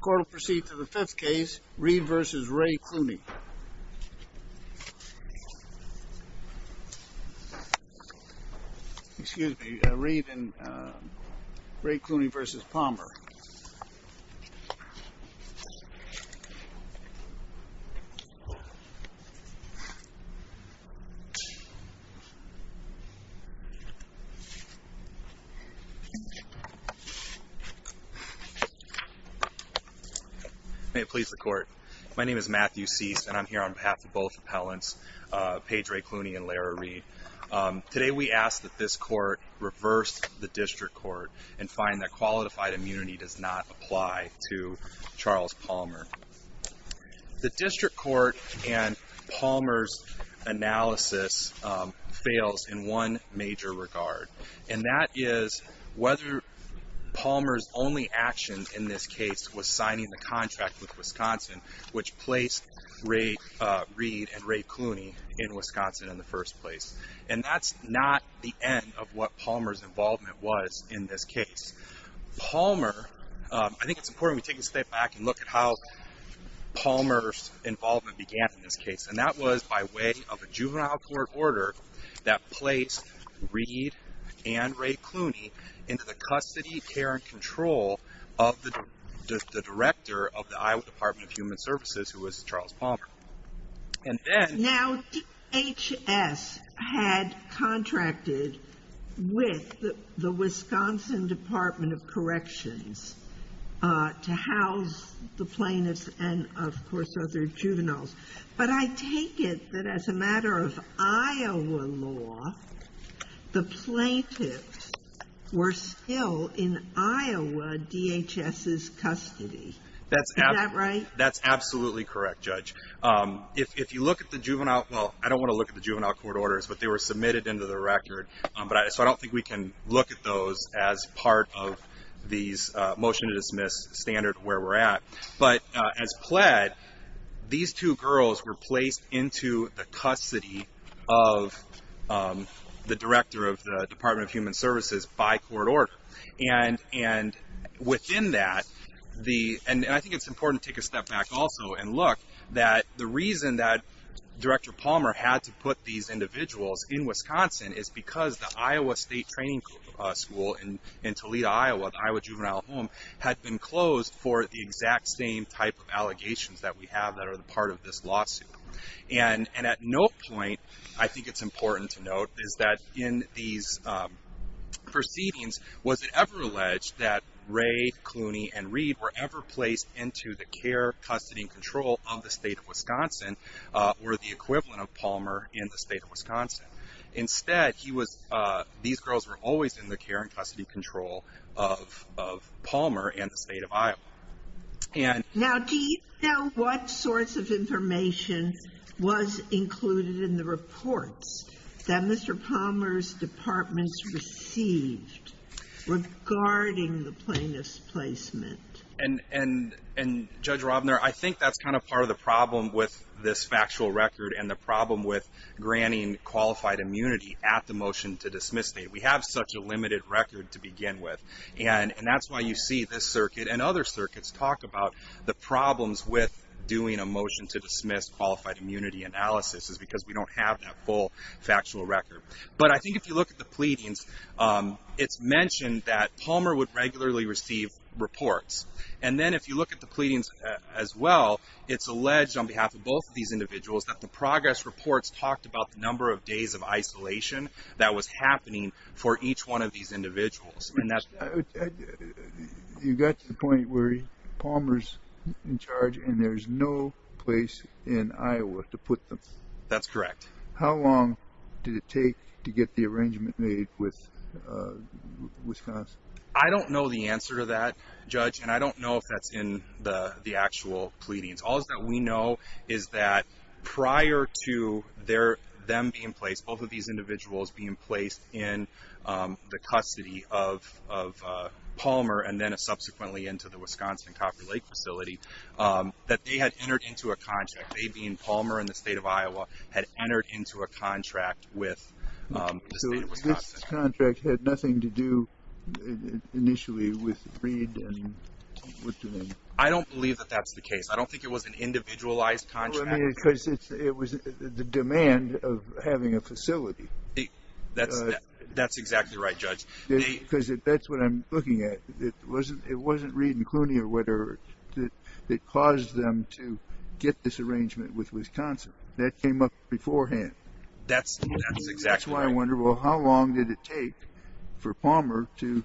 Court will proceed to the fifth case, Reed v. Ray Clooney. Excuse me, Reed and, uh, Ray Clooney v. Palmer. May it please the court. My name is Matthew Cease, and I'm here on behalf of both appellants, uh, Paige Ray Clooney and Lera Reed. Um, today we ask that this court reverse the district court and find that qualified immunity does not apply to Charles Palmer. The district court and Palmer's analysis, um, fails in one major regard. And that is whether Palmer's only action in this case was signing the contract with Wisconsin, which placed Ray, uh, Reed and Ray Clooney in Wisconsin in the first place. And that's not the end of what Palmer's involvement was in this case. Palmer, um, I think it's important we take a step back and look at how Palmer's involvement began in this case. And that was by way of a juvenile court order that placed Reed and Ray Clooney into the custody, care, and control of the director of the Iowa Department of Human Services, who was Charles Palmer. And then... Now, DHS had contracted with the Wisconsin Department of Corrections, uh, to house the plaintiffs and, of course, other juveniles. But I take it that as a matter of Iowa law, the plaintiffs were still in Iowa DHS's custody. Is that right? That's absolutely correct, Judge. Um, if you look at the juvenile, well, I don't want to look at the juvenile court orders, but they were submitted into the record. Um, but I, so I don't think we can look at those as part of these, uh, motion to dismiss standard where we're at. But, uh, as pled, these two girls were placed into the custody of, um, the director of the Department of Human Services by court order. And, and within that, the, and I think it's important to take a step back also and look that the reason that Director Palmer had to put these individuals in Wisconsin is because the Iowa State Training School in Toledo, Iowa, the Iowa Juvenile Home, had been closed for the exact same type of allegations that we have that are part of this lawsuit. And, and at no point, I think it's important to note, is that in these, um, proceedings, was it ever alleged that Ray, Clooney, and Reed were ever placed into the care, custody, and control of the state of Wisconsin, uh, or the equivalent of Palmer in the state of Wisconsin. Instead, he was, uh, these girls were always in the care and custody control of, of Palmer and the state of Iowa. And... Now, do you know what sorts of information was included in the reports that Mr. Palmer's departments received regarding the plaintiff's placement? And, and, and Judge Robner, I think that's kind of part of the problem with this factual record and the problem with granting qualified immunity at the motion to dismiss date. We have such a limited record to begin with. And, and that's why you see this circuit and other circuits talk about the problems with doing a motion to dismiss qualified immunity analysis is because we don't have that full factual record. But I think if you look at the pleadings, um, it's mentioned that Palmer would regularly receive reports. And then if you look at the pleadings as well, it's alleged on behalf of both of these individuals that the progress reports talked about the number of days of isolation that was happening for each one of these individuals. And that's... You got to the point where Palmer's in charge and there's no place in Iowa to put them. That's correct. How long did it take to get the arrangement made with, uh, Wisconsin? I don't know the answer to that, Judge. And I don't know if that's in the, the actual pleadings. All that we know is that prior to their, them being placed, both of these individuals being placed in, um, the custody of, of, uh, Palmer and then subsequently into the Wisconsin Copper Lake facility, um, that they had entered into a contract. They being Palmer and the state of Iowa had entered into a contract with, um, the state of Wisconsin. So this contract had nothing to do initially with Reed and... I don't believe that that's the case. I don't think it was an individualized contract. Well, I mean, because it's, it was the demand of having a facility. That's, that's exactly right, Judge. Because that's what I'm looking at. It wasn't, it wasn't Reed and Clooney or whatever that, that caused them to get this arrangement with Wisconsin. That came up beforehand. That's, that's exactly right. That's why I wonder, well, how long did it take for Palmer to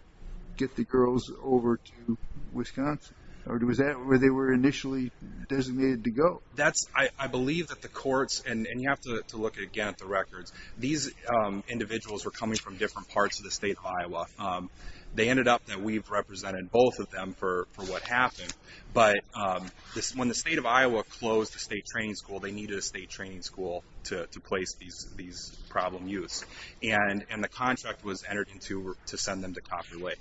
get the girls over to Wisconsin? Or was that where they were initially designated to go? That's, I, I believe that the courts, and, and you have to, to look again at the records. These, um, individuals were coming from different parts of the state of Iowa. Um, they ended up that we've represented both of them for, for what happened. But, um, when the state of Iowa closed the state training school, they needed a state training school to, to place these, these problem youths. And, and the contract was entered into to send them to Coffey Lake.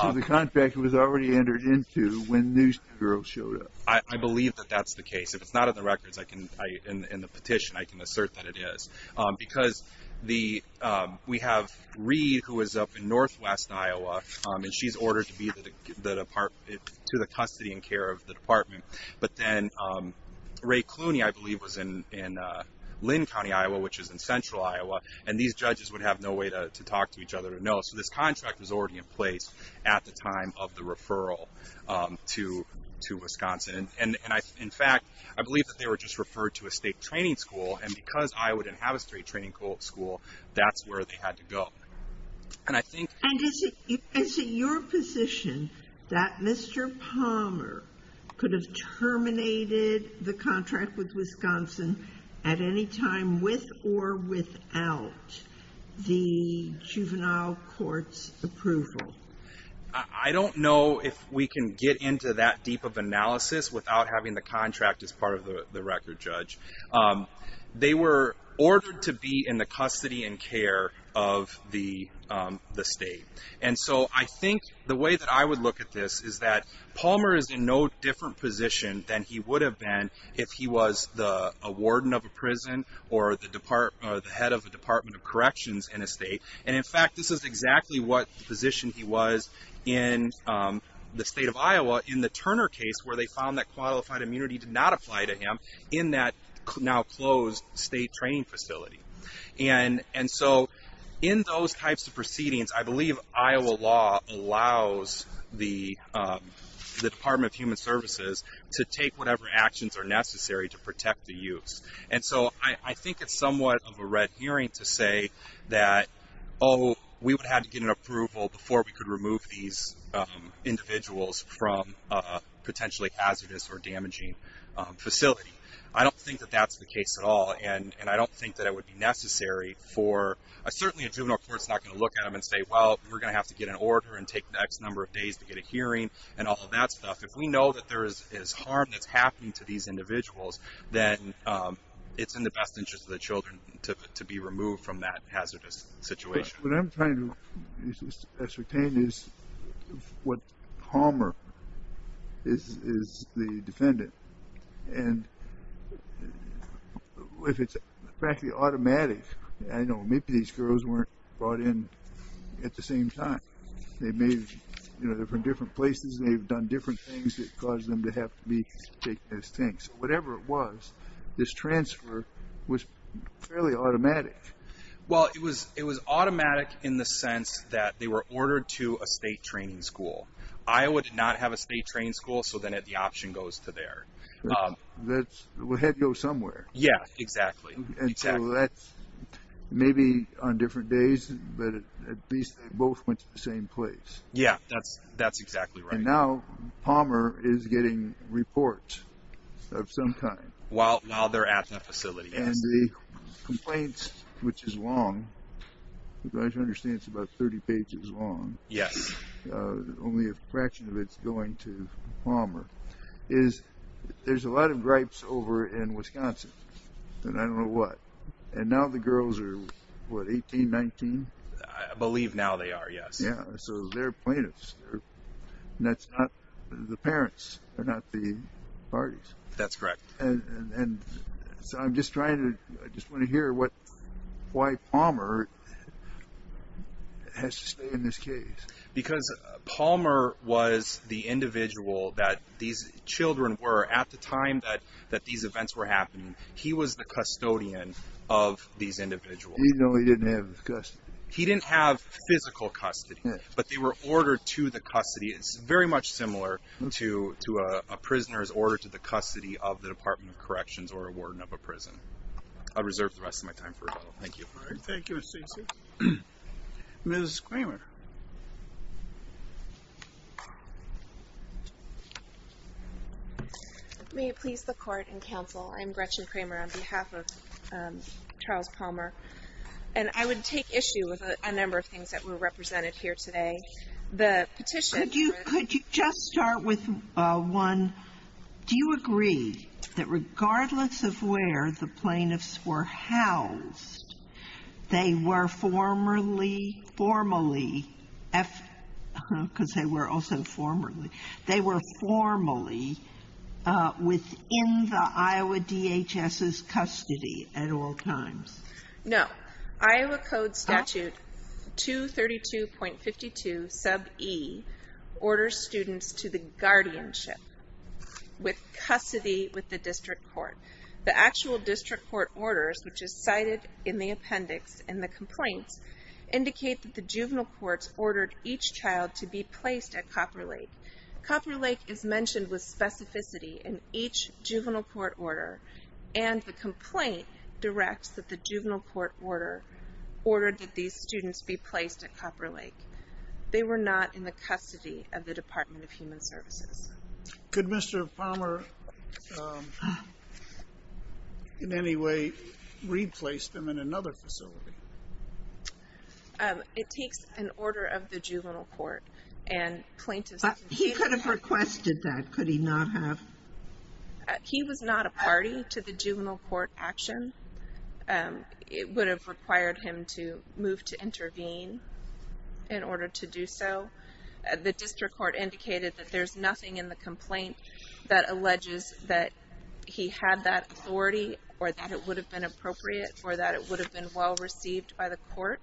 So the contract was already entered into when these two girls showed up. I, I believe that that's the case. If it's not in the records, I can, I, in, in the petition, I can assert that it is. Um, because the, um, we have Reed who is up in Northwest Iowa. Um, and she's ordered to be the, the department, to the custody and care of the department. But then, um, Ray Clooney, I believe was in, in, uh, Lynn County, Iowa, which is in Central Iowa. And these judges would have no way to, to talk to each other to know. So this contract was already in place at the time of the referral, um, to, to Wisconsin. And, and I, in fact, I believe that they were just referred to a state training school. And because Iowa didn't have a state training school, that's where they had to go. And I think... And is it, is it your position that Mr. Palmer could have terminated the contract with Wisconsin at any time with or without the juvenile court's approval? I, I don't know if we can get into that deep of analysis without having the contract as part of the, the record, Judge. Um, they were ordered to be in the custody and care of the, um, the state. And so I think the way that I would look at this is that Palmer is in no different position than he would have been if he was the, a warden of a prison or the department, or the head of the Department of Corrections in a state. And in fact, this is exactly what the position he was in, um, the state of Iowa in the Turner case where they found that qualified immunity did not apply to him in that now closed state training facility. And, and so in those types of proceedings, I believe Iowa law allows the, um, the Department of Human Services to take whatever actions are necessary to protect the youths. And so I, I think it's somewhat of a red herring to say that, oh, we would have to get an approval before we could remove these, um, individuals from a potentially hazardous or damaging, um, facility. I don't think that that's the case at all. And, and I don't think that it would be necessary for a, certainly a juvenile court's not going to look at them and say, well, we're going to have to get an order and take the next number of days to get a hearing and all of that stuff. If we know that there is, is harm that's happening to these individuals, then, um, it's in the best interest of the children to, to be removed from that hazardous situation. What I'm trying to ascertain is what Palmer is, is the defendant. And if it's practically automatic, I know maybe these girls weren't brought in at the same time. They may have, you know, they're from different places. They've done different things that caused them to have to be taken as tanks. Whatever it was, this transfer was fairly automatic. Well, it was, it was automatic in the sense that they were ordered to a state training school. Iowa did not have a state training school. So then the option goes to there. That's, well, it had to go somewhere. Yeah, exactly. And so that's maybe on different days, but at least they both went to the same place. Yeah, that's, that's exactly right. And now Palmer is getting reports of some kind. While, while they're at the facility. And the complaints, which is long, as far as I understand, it's about 30 pages long. Yes. Only a fraction of it's going to Palmer. Is, there's a lot of gripes over in Wisconsin. And I don't know what. And now the girls are, what, 18, 19? I believe now they are, yes. Yeah, so they're plaintiffs. And that's not the parents. They're not the parties. That's correct. And so I'm just trying to, I just want to hear what, why Palmer has to stay in this case. Because Palmer was the individual that these children were at the time that, that these events were happening. He was the custodian of these individuals. Even though he didn't have custody. He didn't have physical custody. But they were ordered to the custody. It's very much similar to a prisoner's order to the custody of the Department of Corrections or a warden of a prison. I'll reserve the rest of my time for rebuttal. Thank you. Thank you, Stacey. Ms. Kramer. May it please the court and counsel, I'm Gretchen Kramer on behalf of Charles Palmer. And I would take issue with a number of things that were represented here today. The petition. Could you just start with one? Do you agree that regardless of where the plaintiffs were housed, they were formally, formally, because they were also formerly, they were formally within the Iowa DHS's custody at all times? No. Iowa Code Statute 232.52 sub E orders students to the guardianship with custody with the district court. The actual district court orders, which is cited in the appendix in the complaints, indicate that the juvenile courts ordered each child to be placed at Copper Lake. Copper Lake is mentioned with specificity in each juvenile court order. And the complaint directs that the juvenile court order ordered that these students be placed at Copper Lake. They were not in the custody of the Department of Human Services. Could Mr. Palmer in any way replace them in another facility? It takes an order of the juvenile court and plaintiffs. He could have requested that. Could he not have? He was not a party to the juvenile court action. It would have required him to move to intervene in order to do so. The district court indicated that there's nothing in the complaint that alleges that he had that authority or that it would have been appropriate or that it would have been well received by the court.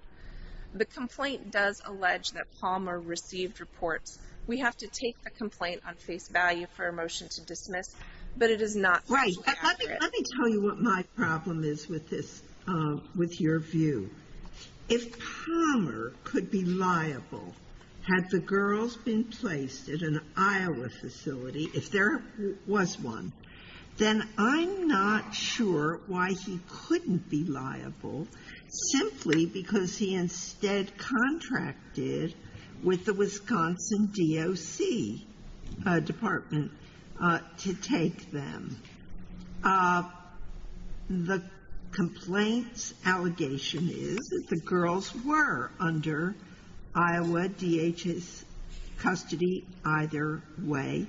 The complaint does allege that Palmer received reports. We have to take the complaint on face value for a motion to dismiss, but it is not appropriate. Let me tell you what my problem is with this, with your view. If Palmer could be liable had the girls been placed at an Iowa facility, if there was one, then I'm not sure why he couldn't be liable simply because he instead contracted with the Wisconsin DOC Department to take them. The complaint's allegation is that the girls were under Iowa DHS custody either way,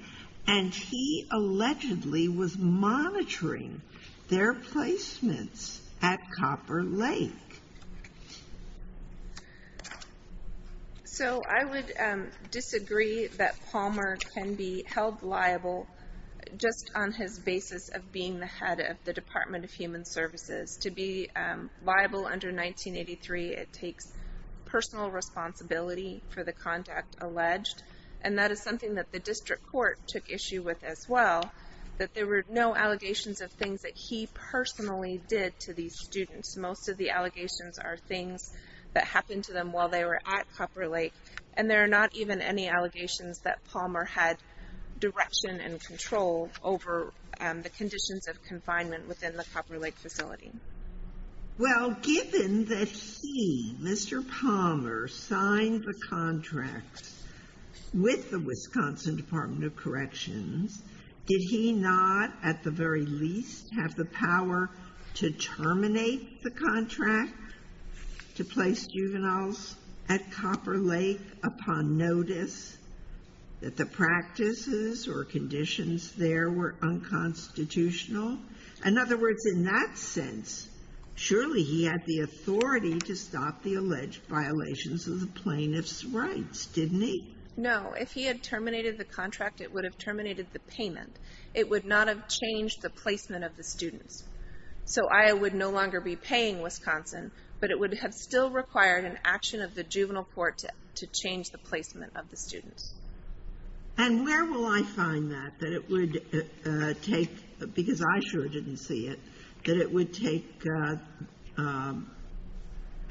and he allegedly was monitoring their placements at Copper Lake. So I would disagree that Palmer can be held liable just on his basis of being the head of the Department of Human Services. To be liable under 1983, it takes personal responsibility for the contact alleged, and that is something that the district court took issue with as well, that there were no allegations of things that he personally did to these students. Most of the allegations are things that happened to them while they were at Copper Lake, and there are not even any allegations that Palmer had direction and control over the conditions of confinement within the Copper Lake facility. Well, given that he, Mr. Palmer, signed the contracts with the Wisconsin Department of Corrections, did he not at the very least have the power to terminate the contract to place juveniles at Copper Lake upon notice that the practices or conditions there were unconstitutional? In other words, in that sense, surely he had the authority to stop the alleged violations of the plaintiff's rights, didn't he? No. If he had terminated the contract, it would have terminated the payment. It would not have changed the placement of the students. So Iowa would no longer be paying Wisconsin, but it would have still required an action of the juvenile court to change the placement of the students. And where will I find that, that it would take, because I sure didn't see it, that it would take an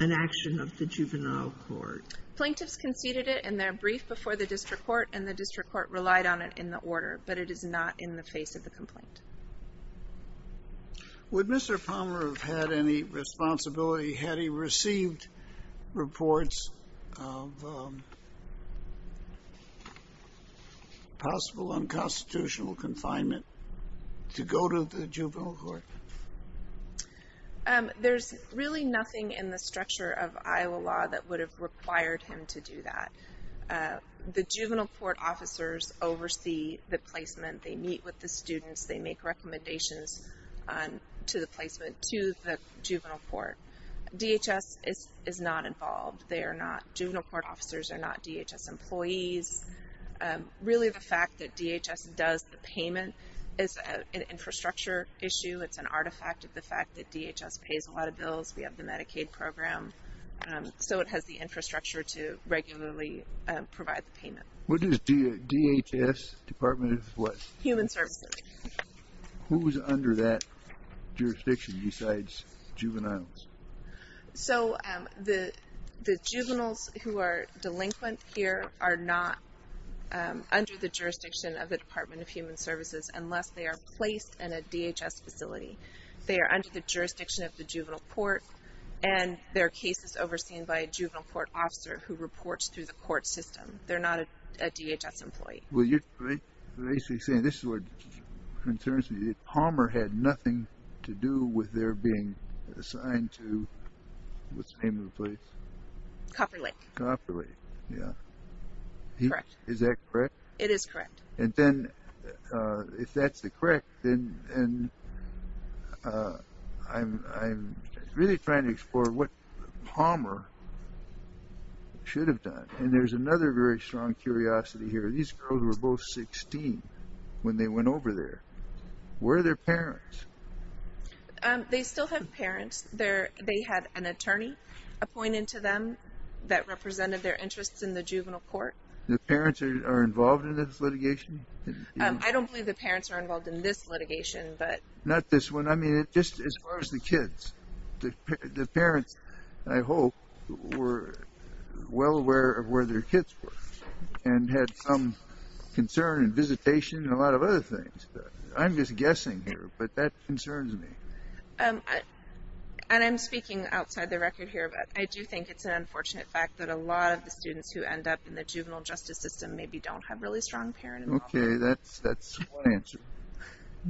action of the juvenile court? Plaintiffs conceded it in their brief before the district court, and the district court relied on it in the order, but it is not in the face of the complaint. Would Mr. Palmer have had any responsibility had he received reports of possible unconstitutional confinement to go to the juvenile court? There's really nothing in the structure of Iowa law that would have required him to do that. The juvenile court officers oversee the placement. They meet with the students. They make recommendations to the placement to the juvenile court. DHS is not involved. They are not, juvenile court officers are not DHS employees. Really, the fact that DHS does the payment is an infrastructure issue. It's an artifact of the fact that DHS pays a lot of bills. We have the Medicaid program. So it has the infrastructure to regularly provide the payment. What does DHS, Department of what? Human Services. Who is under that jurisdiction besides juveniles? So the juveniles who are delinquent here are not under the jurisdiction of the Department of Human Services unless they are placed in a DHS facility. They are under the jurisdiction of the juvenile court, and there are cases overseen by a juvenile court officer who reports through the court system. They're not a DHS employee. Well, you're basically saying, this is what concerns me, Palmer had nothing to do with their being assigned to, what's the name of the place? Copper Lake. Copper Lake, yeah. Correct. Is that correct? It is correct. And then if that's correct, then I'm really trying to explore what Palmer should have done. And there's another very strong curiosity here. These girls were both 16 when they went over there. Where are their parents? They still have parents. They had an attorney appointed to them that represented their interests in the juvenile court. The parents are involved in this litigation? I don't believe the parents are involved in this litigation. Not this one. I mean, just as far as the kids. The parents, I hope, were well aware of where their kids were and had some concern and visitation and a lot of other things. I'm just guessing here, but that concerns me. And I'm speaking outside the record here, but I do think it's an unfortunate fact that a lot of the students who end up in the juvenile justice system maybe don't have really strong parent involvement. Okay, that's one answer.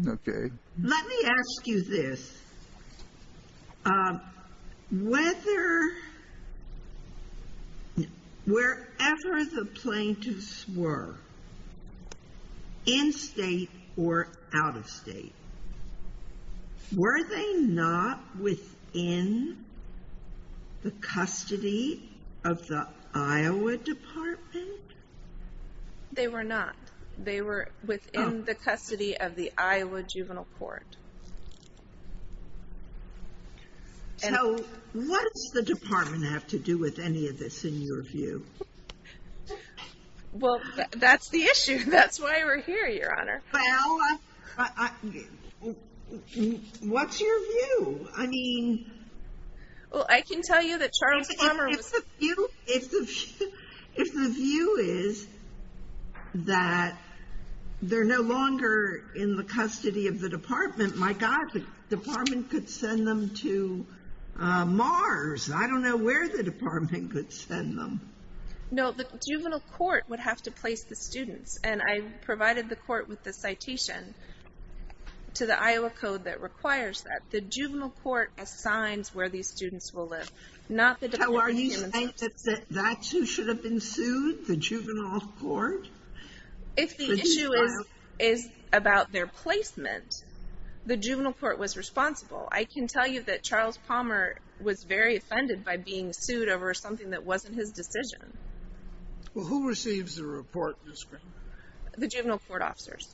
Okay. Let me ask you this. Wherever the plaintiffs were, in state or out of state, were they not within the custody of the Iowa Department? They were not. They were within the custody of the Iowa Juvenile Court. So what does the department have to do with any of this, in your view? Well, that's the issue. That's why we're here, Your Honor. Well, what's your view? I mean... Well, I can tell you that Charles Palmer was... If the view is that they're no longer in the custody of the department, my God, the department could send them to Mars. I don't know where the department could send them. No, the juvenile court would have to place the students. And I provided the court with the citation to the Iowa Code that requires that. The juvenile court assigns where these students will live. How are you saying that that should have been sued, the juvenile court? If the issue is about their placement, the juvenile court was responsible. I can tell you that Charles Palmer was very offended by being sued over something that wasn't his decision. Well, who receives the report, Ms. Greenberg? The juvenile court officers.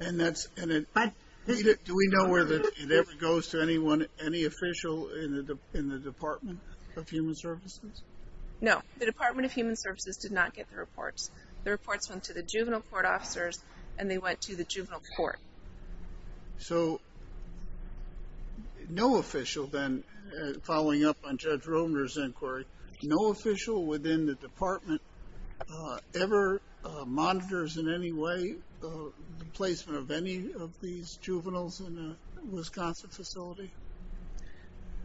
Do we know whether it ever goes to any official in the Department of Human Services? No, the Department of Human Services did not get the reports. The reports went to the juvenile court officers, and they went to the juvenile court. So, no official then, following up on Judge Romer's inquiry, no official within the department ever monitors in any way the placement of any of these juveniles in a Wisconsin facility?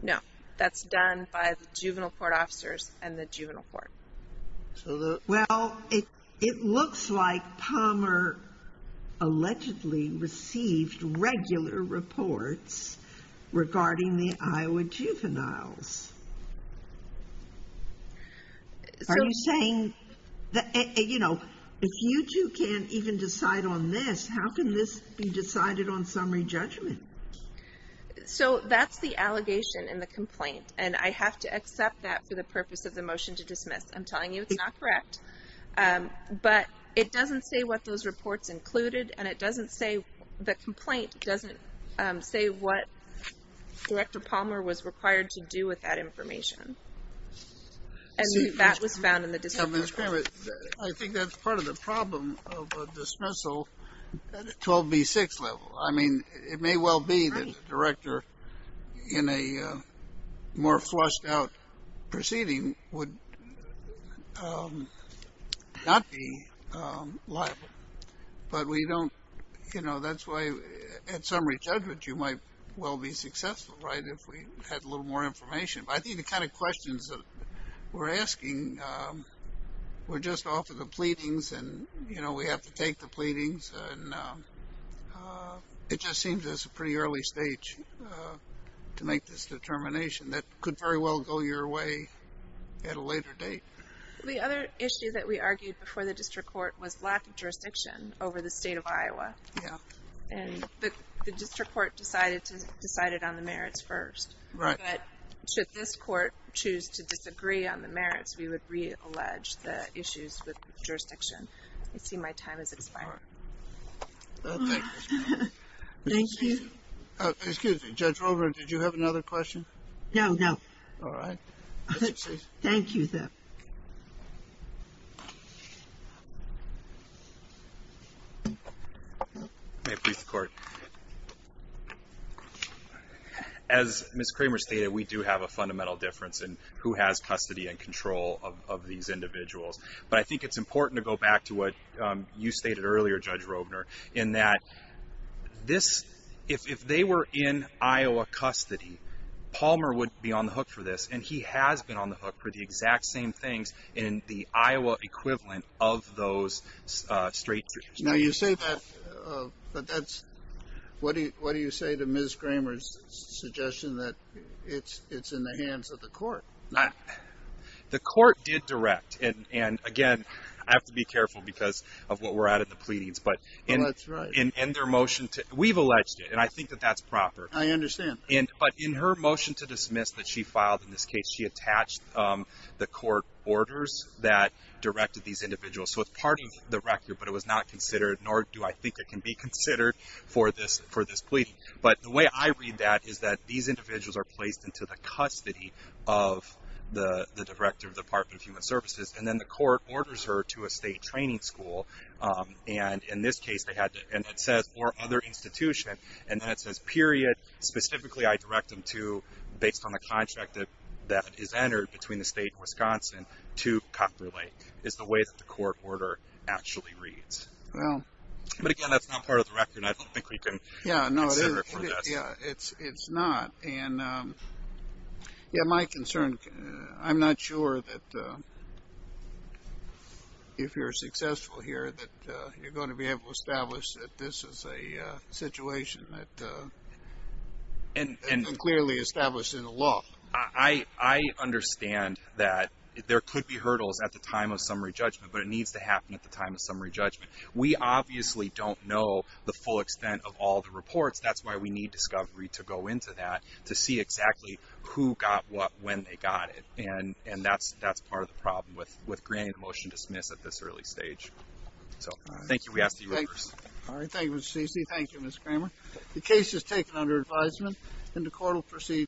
No, that's done by the juvenile court officers and the juvenile court. Well, it looks like Palmer allegedly received regular reports regarding the Iowa juveniles. Are you saying, you know, if you two can't even decide on this, how can this be decided on summary judgment? So, that's the allegation in the complaint, and I have to accept that for the purpose of the motion to dismiss. I'm telling you, it's not correct. But it doesn't say what those reports included, and it doesn't say, the complaint doesn't say what Director Palmer was required to do with that information. And that was found in the dismissal. I think that's part of the problem of a dismissal 12B6 level. I mean, it may well be that the director in a more flushed-out proceeding would not be liable. But we don't, you know, that's why at summary judgment you might well be successful, right, if we had a little more information. But I think the kind of questions that we're asking, we're just off of the pleadings, and, you know, we have to take the pleadings. And it just seems that it's a pretty early stage to make this determination that could very well go your way at a later date. The other issue that we argued before the district court was lack of jurisdiction over the state of Iowa. Yeah. And the district court decided on the merits first. Right. But should this court choose to disagree on the merits, we would reallege the issues with jurisdiction. I see my time has expired. All right. Thank you. Thank you. Excuse me. Judge Wolbert, did you have another question? No, no. All right. Thank you, then. May I brief the court? As Ms. Kramer stated, we do have a fundamental difference in who has custody and control of these individuals. But I think it's important to go back to what you stated earlier, Judge Robner, in that this, if they were in Iowa custody, Palmer would be on the hook for this. And he has been on the hook for the exact same things in the Iowa equivalent of those straight. Now, you say that, but that's what do you say to Ms. Kramer's suggestion that it's in the hands of the court? The court did direct. And, again, I have to be careful because of what we're at in the pleadings. But in their motion, we've alleged it. And I think that that's proper. I understand. But in her motion to dismiss that she filed in this case, she attached the court orders that directed these individuals. So it's part of the record, but it was not considered, nor do I think it can be considered for this plea. But the way I read that is that these individuals are placed into the custody of the director of the Department of Human Services. And then the court orders her to a state training school. And in this case, they had to. And it says, or other institution. And then it says, period. Specifically, I direct them to, based on the contract that is entered between the state and Wisconsin, to Copper Lake, is the way that the court order actually reads. But, again, that's not part of the record, and I don't think we can consider it for this. Yeah, it's not. And, yeah, my concern, I'm not sure that if you're successful here that you're going to be able to establish that this is a situation that isn't clearly established in the law. I understand that there could be hurdles at the time of summary judgment, but it needs to happen at the time of summary judgment. We obviously don't know the full extent of all the reports. That's why we need discovery to go into that to see exactly who got what, when they got it. And that's part of the problem with granting a motion to dismiss at this early stage. So, thank you. We ask that you reverse. All right. Thank you, Mr. Ceci. Thank you, Ms. Kramer. The case is taken under advisement, and the court will proceed.